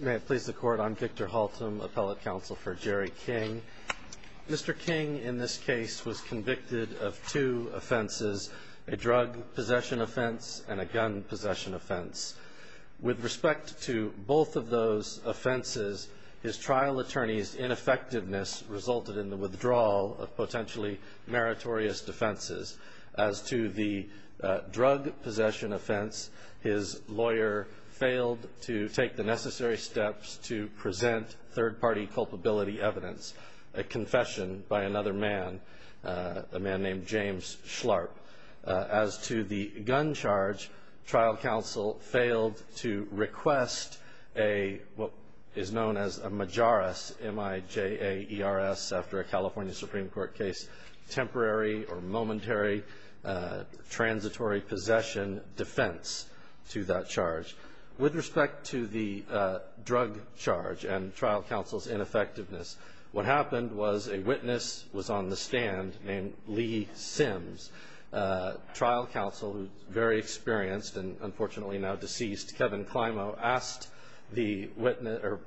May it please the Court, I'm Victor Haltom, Appellate Counsel for Jerry King. Mr. King, in this case, was convicted of two offenses, a drug possession offense and a gun possession offense. With respect to both of those offenses, his trial attorney's ineffectiveness resulted in the withdrawal of potentially meritorious defenses. As to the drug possession offense, his lawyer failed to take the necessary steps to present third-party culpability evidence, a confession by another man, a man named James Schlarp. As to the gun charge, trial counsel failed to request what is known as a majoress, M-I-J-A-E-R-S, after a California Supreme Court case, temporary or momentary transitory possession defense to that charge. With respect to the drug charge and trial counsel's ineffectiveness, what happened was a witness was on the stand named Lee Sims. Trial counsel, who's very experienced and unfortunately now deceased, Kevin Climo,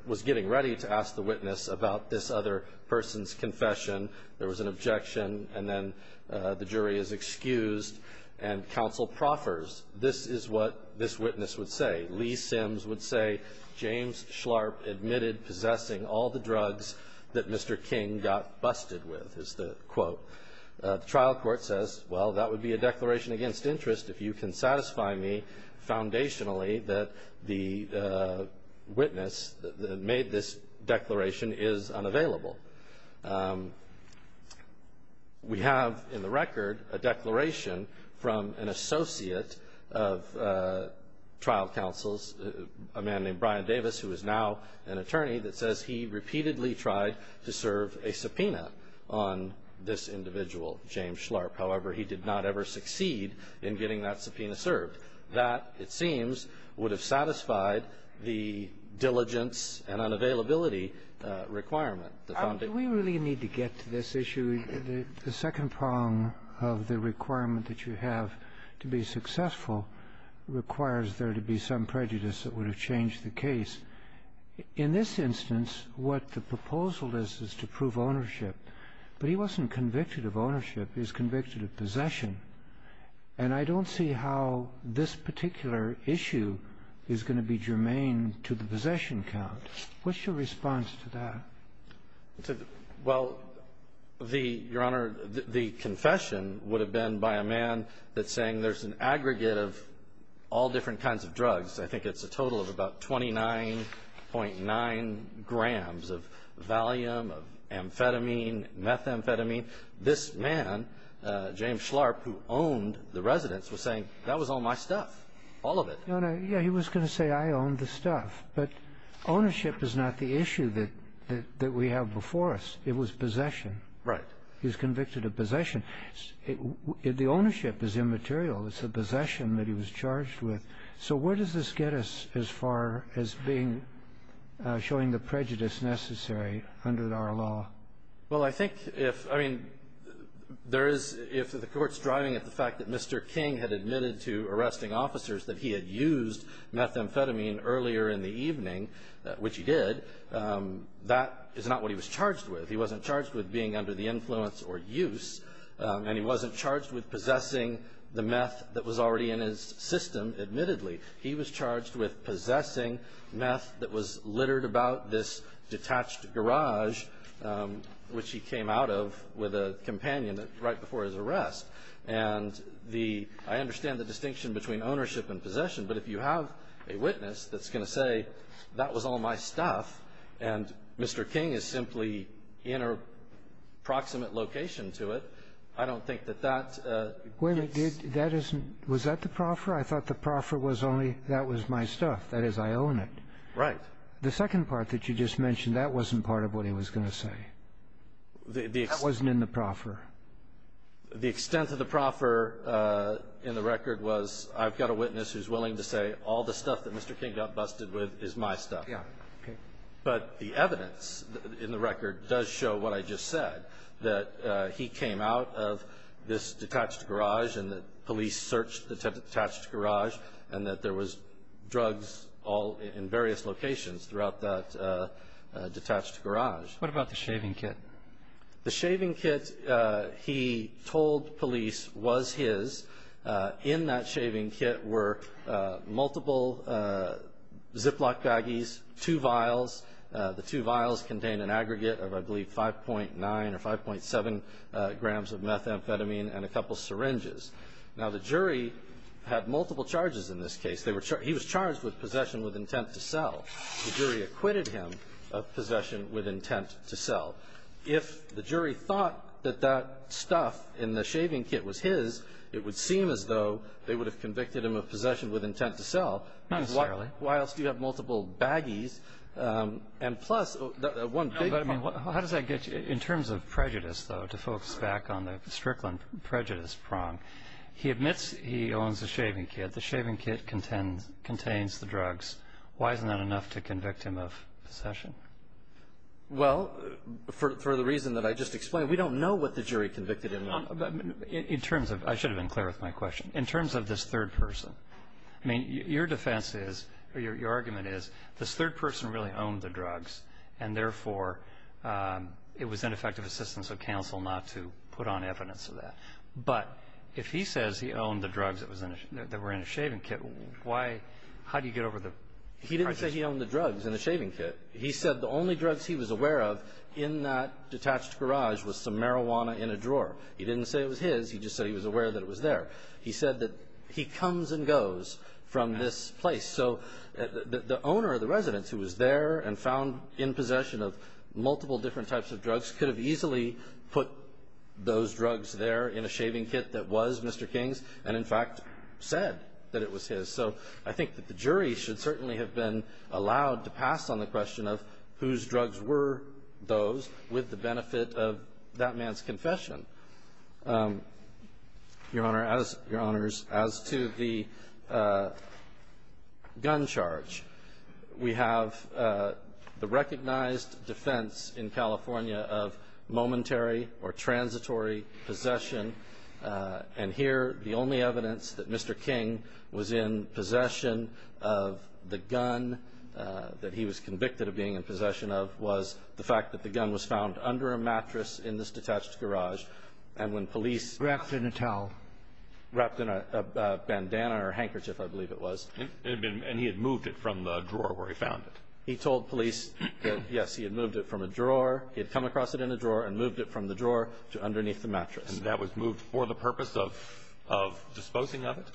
was getting ready to ask the witness about this other person's confession. There was an objection, and then the jury is excused, and counsel proffers, this is what this witness would say. Lee Sims would say, James Schlarp admitted possessing all the drugs that Mr. King got busted with, is the quote. The trial court says, well, that would be a declaration against interest if you can satisfy me foundationally that the witness that made this declaration is unavailable. We have in the record a declaration from an associate of trial counsel's, a man named Brian Davis, who is now an attorney, that says he repeatedly tried to serve a subpoena on this individual, James Schlarp. However, he did not ever succeed in getting that subpoena served. That, it seems, would have satisfied the diligence and unavailability requirement. The foundation of the case. We really need to get to this issue. The second prong of the requirement that you have to be successful requires there to be some prejudice that would have changed the case. In this instance, what the proposal is, is to prove ownership. But he wasn't convicted of ownership. He was convicted of possession. And I don't see how this particular issue is going to be germane to the possession count. What's your response to that? Well, Your Honor, the confession would have been by a man that's saying there's an aggregate of all different kinds of drugs. I think it's a total of about 29.9 grams of Valium, of amphetamine, methamphetamine. This man, James Schlarp, who owned the residence, was saying that was all my stuff, all of it. Your Honor, yeah, he was going to say I owned the stuff. But ownership is not the issue that we have before us. It was possession. Right. He was convicted of possession. The ownership is immaterial. It's the possession that he was charged with. So where does this get us as far as being, showing the prejudice necessary under our law? Well, I think if the court's driving at the fact that Mr. King had admitted to arresting officers that he had used methamphetamine earlier in the evening, which he did, that is not what he was charged with. He wasn't charged with being under the influence or use. And he wasn't charged with possessing the meth that was already in his system, admittedly. He was charged with possessing meth that was littered about this detached garage, which he came out of with a companion right before his arrest. And the – I understand the distinction between ownership and possession, but if you have a witness that's going to say that was all my stuff and Mr. King is simply in a proximate location to it, I don't think that that is the case. Wait a minute. That isn't – was that the proffer? I thought the proffer was only that was my stuff. That is, I own it. Right. The second part that you just mentioned, that wasn't part of what he was going to say. That wasn't in the proffer. The extent of the proffer in the record was I've got a witness who's willing to say all the stuff that Mr. King got busted with is my stuff. Yeah. Okay. But the evidence in the record does show what I just said, that he came out of this detached garage and that police searched the detached garage and that there was drugs all in various locations throughout that detached garage. What about the shaving kit? The shaving kit he told police was his. In that shaving kit were multiple Ziploc baggies, two vials. The two vials contained an aggregate of, I believe, 5.9 or 5.7 grams of methamphetamine and a couple syringes. Now, the jury had multiple charges in this case. He was charged with possession with intent to sell. The jury acquitted him of possession with intent to sell. If the jury thought that that stuff in the shaving kit was his, it would seem as though they would have convicted him of possession with intent to sell. Not necessarily. Why else do you have multiple baggies? And plus, one big one. How does that get you? In terms of prejudice, though, to focus back on the Strickland prejudice prong, he admits he owns a shaving kit. The shaving kit contains the drugs. Why isn't that enough to convict him of possession? Well, for the reason that I just explained, we don't know what the jury convicted him of. In terms of ‑‑ I should have been clear with my question. In terms of this third person, I mean, your defense is or your argument is this third person really owned the drugs and, therefore, it was ineffective assistance of counsel not to put on evidence of that. But if he says he owned the drugs that were in his shaving kit, how do you get over the prejudice? He didn't say he owned the drugs in the shaving kit. He said the only drugs he was aware of in that detached garage was some marijuana in a drawer. He didn't say it was his. He just said he was aware that it was there. He said that he comes and goes from this place. So the owner of the residence who was there and found in possession of multiple different types of drugs could have easily put those drugs there in a shaving kit that was Mr. King's and, in fact, said that it was his. So I think that the jury should certainly have been allowed to pass on the question of whose drugs were those with the benefit of that man's confession. Your Honors, as to the gun charge, we have the recognized defense in California of momentary or transitory possession. And here the only evidence that Mr. King was in possession of the gun that he was convicted of being in possession of was the fact that the gun was found under a mattress in this detached garage. And when police ---- Wrapped in a towel. Wrapped in a bandana or handkerchief, I believe it was. And he had moved it from the drawer where he found it. He told police that, yes, he had moved it from a drawer. He had come across it in a drawer and moved it from the drawer to underneath the mattress. And that was moved for the purpose of disposing of it?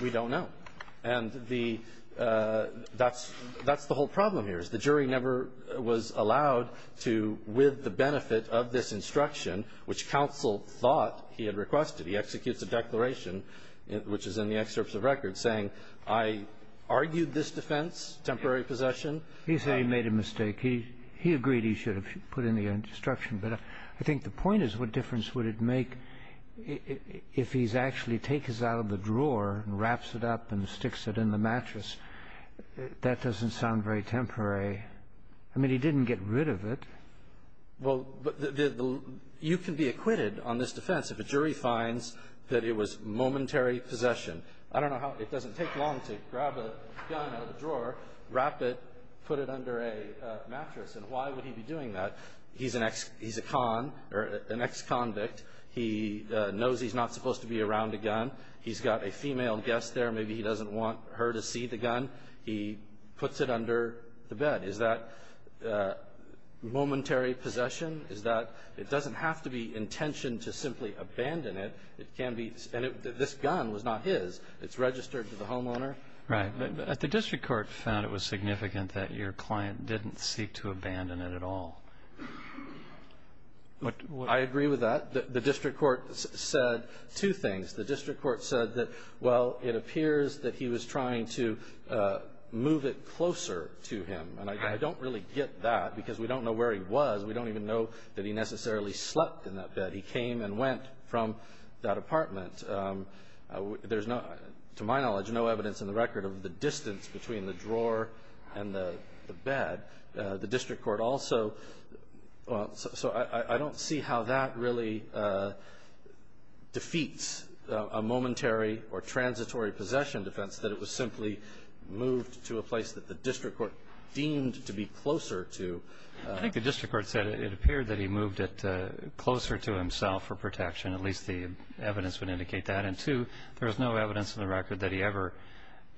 We don't know. And that's the whole problem here, is the jury never was allowed to, with the benefit of this instruction, which counsel thought he had requested, he executes a declaration, which is in the excerpts of record, saying, I argued this defense, temporary possession. He said he made a mistake. He agreed he should have put in the instruction. But I think the point is, what difference would it make if he's actually taken it out of the drawer and wraps it up and sticks it in the mattress? That doesn't sound very temporary. I mean, he didn't get rid of it. Well, you can be acquitted on this defense if a jury finds that it was momentary possession. I don't know how it doesn't take long to grab a gun out of the drawer, wrap it, put it under a mattress. And why would he be doing that? He's a con, or an ex-convict. He knows he's not supposed to be around a gun. He's got a female guest there. Maybe he doesn't want her to see the gun. He puts it under the bed. Is that momentary possession? Is that – it doesn't have to be intention to simply abandon it. It can be – and this gun was not his. It's registered to the homeowner. Right. But the district court found it was significant that your client didn't seek to abandon it at all. I agree with that. The district court said two things. The district court said that, well, it appears that he was trying to move it closer to him. And I don't really get that because we don't know where he was. We don't even know that he necessarily slept in that bed. He came and went from that apartment. There's, to my knowledge, no evidence in the record of the distance between the drawer and the bed. The district court also – so I don't see how that really defeats a momentary or transitory possession defense that it was simply moved to a place that the district court deemed to be closer to. I think the district court said it appeared that he moved it closer to himself for protection. At least the evidence would indicate that. And, two, there's no evidence in the record that he ever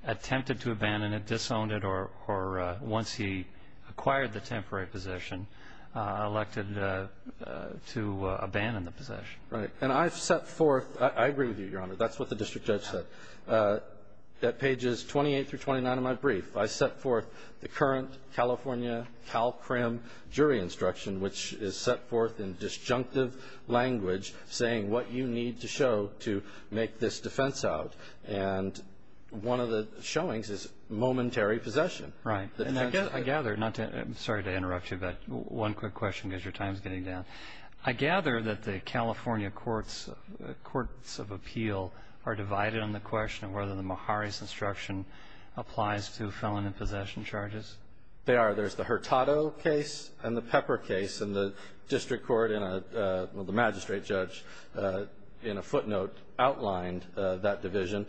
attempted to abandon it, disowned it, or once he acquired the temporary possession elected to abandon the possession. Right. And I've set forth – I agree with you, Your Honor. That's what the district judge said. At pages 28 through 29 of my brief, I set forth the current California CalCrim jury instruction, which is set forth in disjunctive language saying what you need to show to make this defense out. And one of the showings is momentary possession. Right. And I gather – I'm sorry to interrupt you, but one quick question because your time is getting down. I gather that the California courts of appeal are divided on the question of whether the Meharry's instruction applies to felon and possession charges. They are. There's the Hurtado case and the Pepper case, and the district court and the magistrate judge in a footnote outlined that division.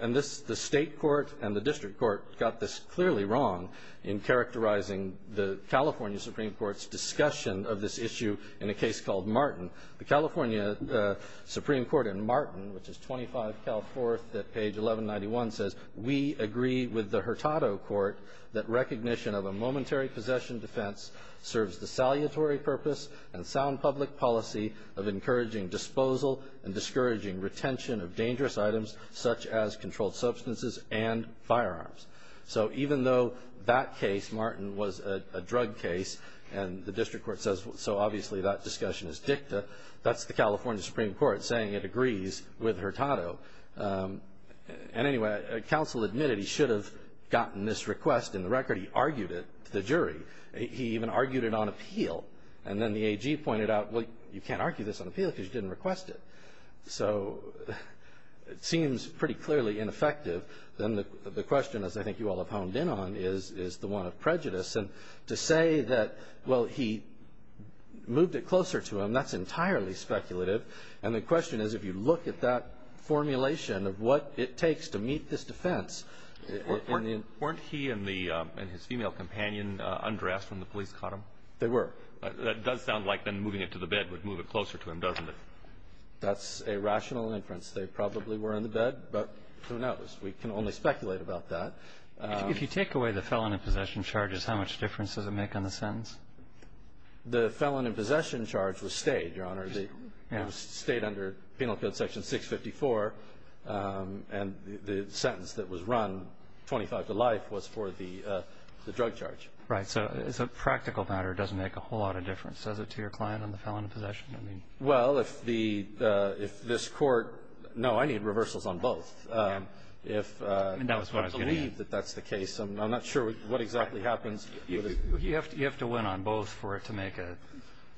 And the state court and the district court got this clearly wrong in characterizing the California Supreme Court's discussion of this issue in a case called Martin. The California Supreme Court in Martin, which is 25 Cal 4th at page 1191, says we agree with the Hurtado court that recognition of a momentary possession defense serves the salutary purpose and sound public policy of encouraging disposal and discouraging retention of dangerous items such as controlled substances and firearms. So even though that case, Martin, was a drug case, and the district court says so obviously that discussion is dicta, that's the California Supreme Court saying it agrees with Hurtado. And anyway, counsel admitted he should have gotten this request in the record. He argued it to the jury. He even argued it on appeal. And then the AG pointed out, well, you can't argue this on appeal because you didn't request it. So it seems pretty clearly ineffective. Then the question, as I think you all have honed in on, is the one of prejudice. And to say that, well, he moved it closer to him, that's entirely speculative. And the question is if you look at that formulation of what it takes to meet this defense. Weren't he and his female companion undressed when the police caught him? They were. That does sound like then moving it to the bed would move it closer to him, doesn't it? That's a rational inference. They probably were in the bed, but who knows. We can only speculate about that. If you take away the felon in possession charges, how much difference does it make on the sentence? The felon in possession charge was stayed, Your Honor. It was stayed under Penal Code Section 654. And the sentence that was run, 25 to life, was for the drug charge. Right. So as a practical matter, it doesn't make a whole lot of difference, does it, to your client on the felon in possession? Well, if this court – no, I need reversals on both. I believe that that's the case. I'm not sure what exactly happens. You have to win on both for it to make a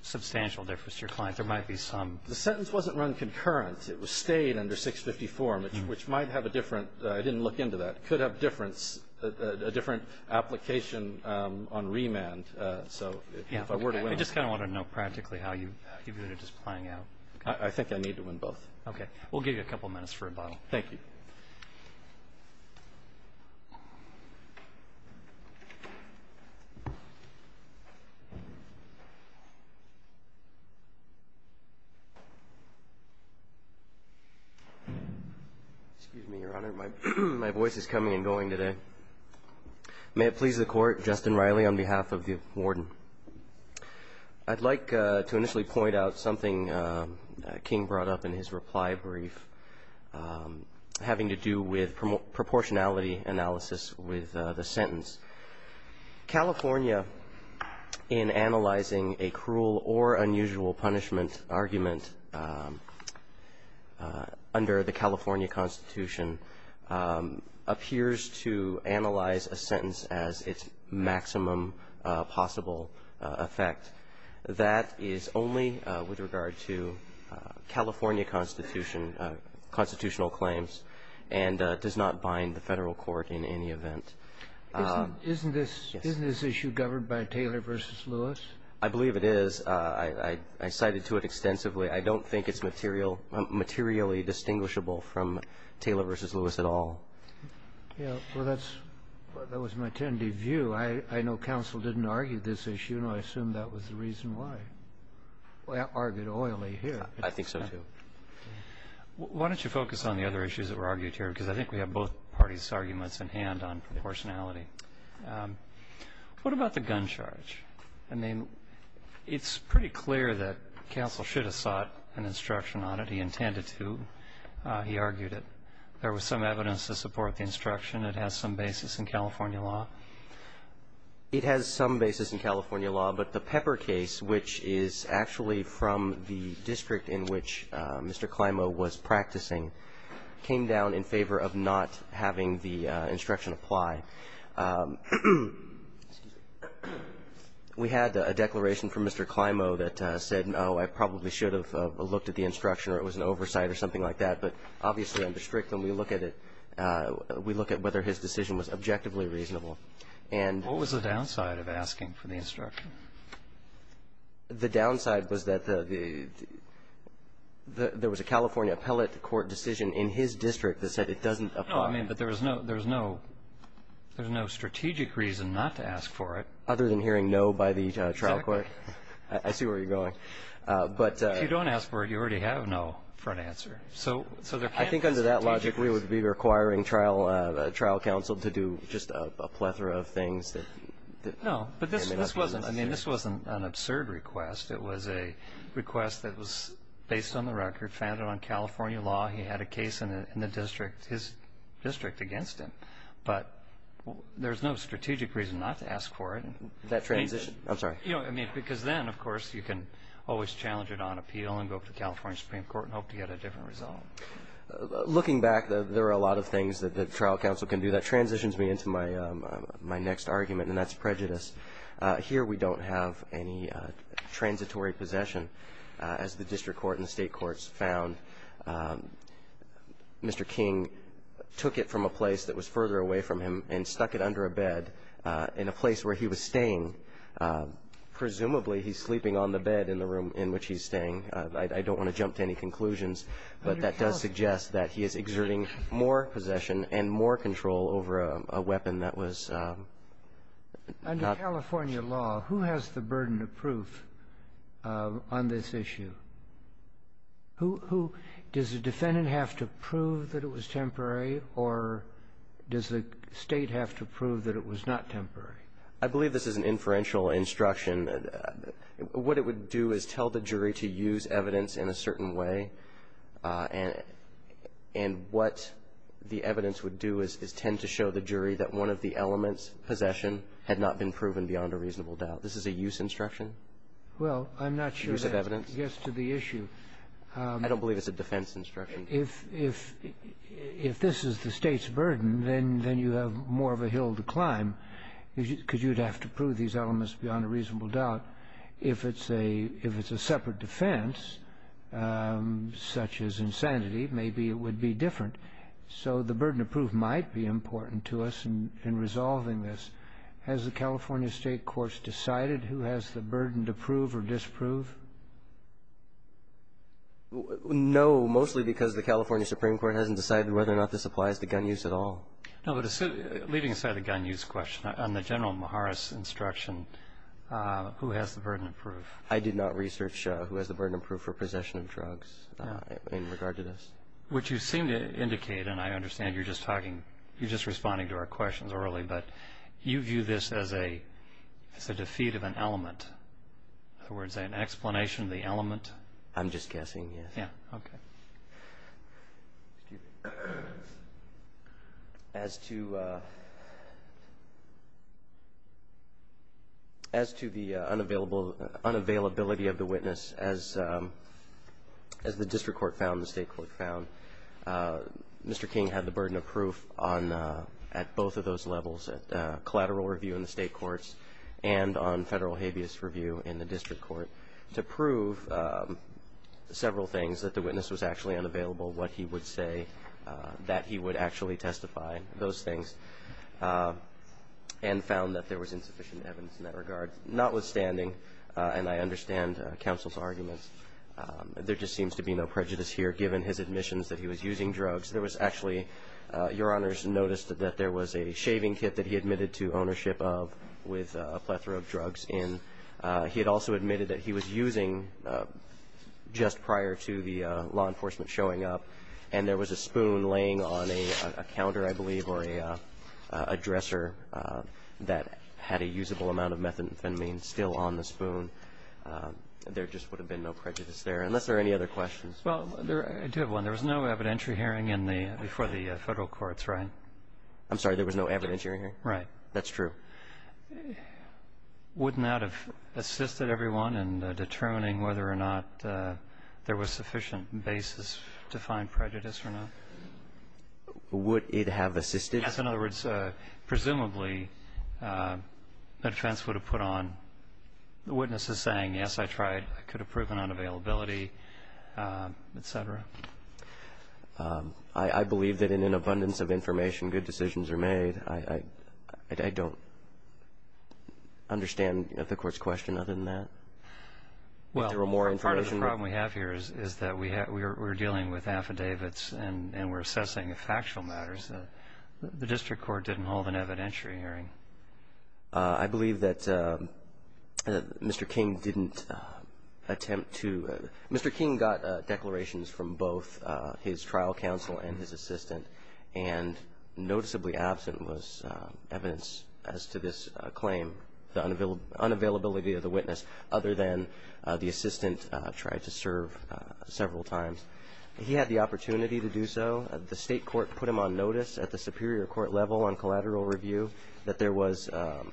substantial difference to your client. But there might be some – The sentence wasn't run concurrent. It was stayed under 654, which might have a different – I didn't look into that. It could have a different application on remand. So if I were to win – I just kind of want to know practically how you view it as playing out. I think I need to win both. Okay. We'll give you a couple minutes for rebuttal. Thank you. Excuse me, Your Honor. My voice is coming and going today. May it please the Court. Justin Riley on behalf of the warden. I'd like to initially point out something King brought up in his reply brief, having to do with proportionality analysis with the sentence. California, in analyzing a cruel or unusual punishment argument under the California Constitution, appears to analyze a sentence as its maximum possible effect. That is only with regard to California constitutional claims and does not bind the federal court in any event. Isn't this issue governed by Taylor v. Lewis? I believe it is. I cited to it extensively. I don't think it's materially distinguishable from Taylor v. Lewis at all. Well, that was my tentative view. I know counsel didn't argue this issue. And I assume that was the reason why. Well, I argued oily here. I think so, too. Why don't you focus on the other issues that were argued here? Because I think we have both parties' arguments at hand on proportionality. What about the gun charge? I mean, it's pretty clear that counsel should have sought an instruction on it. He intended to. He argued it. There was some evidence to support the instruction. It has some basis in California law. It has some basis in California law. But the Pepper case, which is actually from the district in which Mr. Climo was practicing, came down in favor of not having the instruction apply. We had a declaration from Mr. Climo that said, no, I probably should have looked at the instruction or it was an oversight or something like that. But obviously in the district, when we look at it, we look at whether his decision was objectively reasonable. What was the downside of asking for the instruction? The downside was that there was a California appellate court decision in his district that said it doesn't apply. No, I mean that there was no strategic reason not to ask for it. Other than hearing no by the trial court. Exactly. I see where you're going. If you don't ask for it, you already have no front answer. I think under that logic we would be requiring trial counsel to do just a plethora of things. No, but this wasn't an absurd request. It was a request that was based on the record, founded on California law. He had a case in the district, his district, against him. But there's no strategic reason not to ask for it. That transition? I'm sorry. Because then, of course, you can always challenge it on appeal and go to the California Supreme Court and hope to get a different result. Looking back, there are a lot of things that the trial counsel can do. That transitions me into my next argument, and that's prejudice. Here we don't have any transitory possession. As the district court and the state courts found, Mr. King took it from a place that was further away from him and stuck it under a bed in a place where he was staying. Presumably, he's sleeping on the bed in the room in which he's staying. I don't want to jump to any conclusions, but that does suggest that he is exerting more possession and more control over a weapon that was not his. Under California law, who has the burden of proof on this issue? Who? Does the defendant have to prove that it was temporary, or does the State have to prove that it was not temporary? I believe this is an inferential instruction. What it would do is tell the jury to use evidence in a certain way. And what the evidence would do is tend to show the jury that one of the elements, possession, had not been proven beyond a reasonable doubt. This is a use instruction? Well, I'm not sure that's the case. I don't believe it's a defense instruction. If this is the State's burden, then you have more of a hill to climb, because you'd have to prove these elements beyond a reasonable doubt. If it's a separate defense, such as insanity, maybe it would be different. So the burden of proof might be important to us in resolving this. Has the California State courts decided who has the burden to prove or disprove? No, mostly because the California Supreme Court hasn't decided whether or not this applies to gun use at all. Leaving aside the gun use question, on the general Maharis instruction, who has the burden of proof? I did not research who has the burden of proof for possession of drugs in regard to this. What you seem to indicate, and I understand you're just talking, you're just responding to our questions early, but you view this as a defeat of an element. In other words, an explanation of the element? I'm just guessing, yes. Yeah, okay. Excuse me. As to the unavailability of the witness, as the district court found and the state court found, Mr. King had the burden of proof at both of those levels, at collateral review in the state courts and on federal habeas review in the district court, to prove several things, that the witness was actually unavailable, what he would say, that he would actually testify, those things, and found that there was insufficient evidence in that regard. Notwithstanding, and I understand counsel's arguments, there just seems to be no prejudice here given his admissions that he was using drugs. There was actually, Your Honors noticed that there was a shaving kit that he admitted to ownership of with a plethora of drugs in. He had also admitted that he was using, just prior to the law enforcement showing up, and there was a spoon laying on a counter, I believe, or a dresser that had a usable amount of methamphetamine still on the spoon. There just would have been no prejudice there, unless there are any other questions. Well, I do have one. There was no evidentiary hearing before the federal courts, right? I'm sorry, there was no evidentiary hearing? Right. That's true. Wouldn't that have assisted everyone in determining whether or not there was sufficient basis to find prejudice or not? Would it have assisted? Yes. In other words, presumably, the defense would have put on the witnesses saying, yes, I tried, I could have proven unavailability, et cetera. I believe that in an abundance of information, good decisions are made. I don't understand the Court's question other than that. Well, part of the problem we have here is that we're dealing with affidavits and we're assessing factual matters. The district court didn't hold an evidentiary hearing. I believe that Mr. King didn't attempt to. Mr. King got declarations from both his trial counsel and his assistant, and noticeably absent was evidence as to this claim, the unavailability of the witness, other than the assistant tried to serve several times. He had the opportunity to do so. The state court put him on notice at the superior court level on collateral review that there was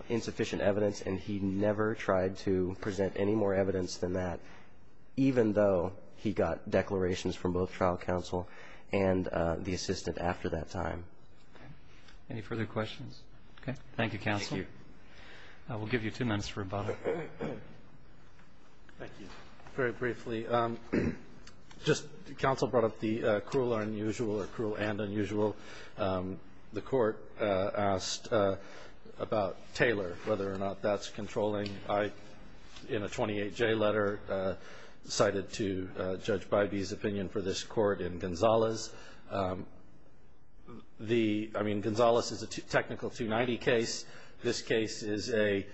insufficient evidence, and he never tried to present any more evidence than that, even though he got declarations from both trial counsel and the assistant after that time. Any further questions? Okay. Thank you, counsel. Thank you. We'll give you two minutes for rebuttal. Thank you. Very briefly, just counsel brought up the cruel unusual or cruel and unusual. The court asked about Taylor, whether or not that's controlling. I, in a 28J letter, cited to Judge Bybee's opinion for this court in Gonzales. I mean, Gonzales is a technical 290 case. This case is a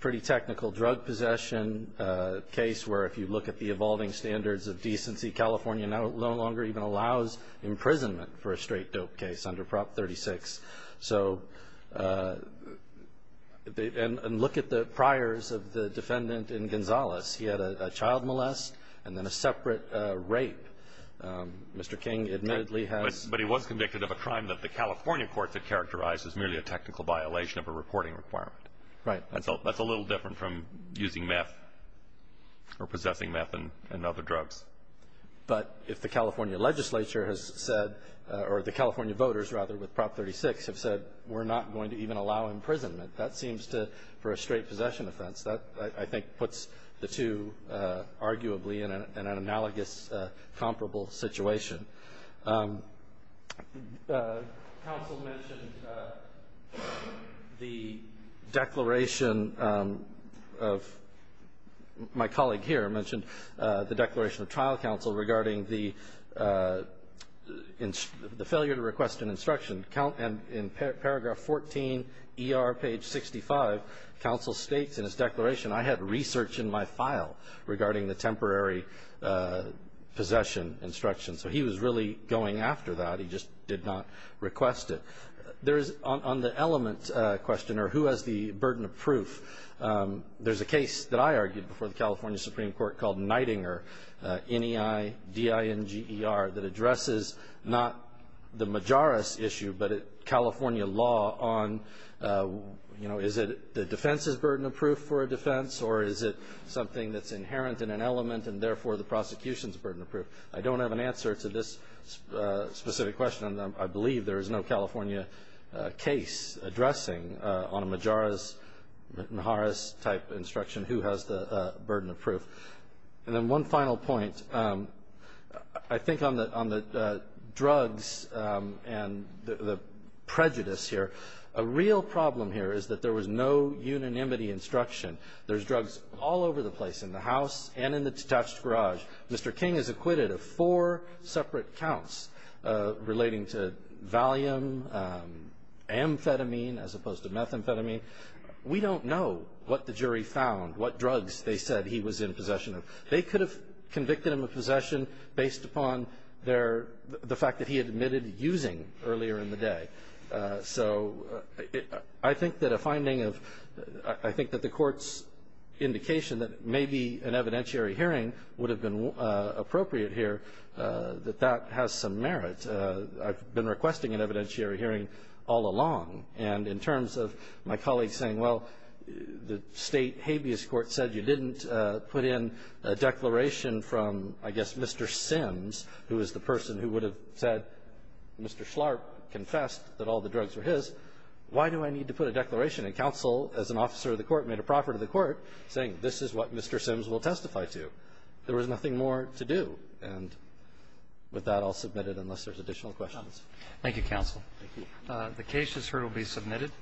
pretty technical drug possession case where, if you look at the evolving standards of decency, California no longer even allows imprisonment for a straight dope case under Prop 36. So, and look at the priors of the defendant in Gonzales. He had a child molest and then a separate rape. Mr. King admittedly has. But he was convicted of a crime that the California courts had characterized as merely a technical violation of a reporting requirement. Right. That's a little different from using meth or possessing meth and other drugs. But if the California legislature has said, or the California voters, rather, with Prop 36 have said, we're not going to even allow imprisonment, that seems to, for a straight possession offense, that I think puts the two arguably in an analogous, comparable situation. Counsel mentioned the declaration of my colleague here mentioned the declaration of trial counsel regarding the failure to request an instruction. And in paragraph 14 ER page 65, counsel states in his declaration, I had research in my file regarding the temporary possession instruction. So he was really going after that. He just did not request it. There is, on the element question, or who has the burden of proof, there's a case that I argued before the California Supreme Court called Neidinger, N-E-I-D-I-N-G-E-R, that addresses not the Majoris issue, but California law on, you know, is it the defense's burden of proof for a defense, or is it something that's inherent in an element and therefore the prosecution's burden of proof? I don't have an answer to this specific question, and I believe there is no California case addressing on a Majoris type instruction who has the burden of proof. And then one final point. I think on the drugs and the prejudice here, a real problem here is that there was no unanimity instruction. There's drugs all over the place in the house and in the detached garage. Mr. King is acquitted of four separate counts relating to Valium, amphetamine, as opposed to methamphetamine. We don't know what the jury found, what drugs they said he was in possession of. They could have convicted him of possession based upon the fact that he admitted using earlier in the day. So I think that a finding of the court's indication that maybe an evidentiary hearing would have been appropriate here, that that has some merit. I've been requesting an evidentiary hearing all along. And in terms of my colleagues saying, well, the State habeas court said you didn't put in a declaration from, I guess, Mr. Sims, who is the person who would have said Mr. Schlarp confessed that all the drugs were his, why do I need to put a declaration? And counsel, as an officer of the court, made a proffer to the court saying this is what Mr. Sims will testify to. There was nothing more to do. And with that, I'll submit it unless there's additional questions. Thank you, counsel. Thank you. The case is heard and will be submitted.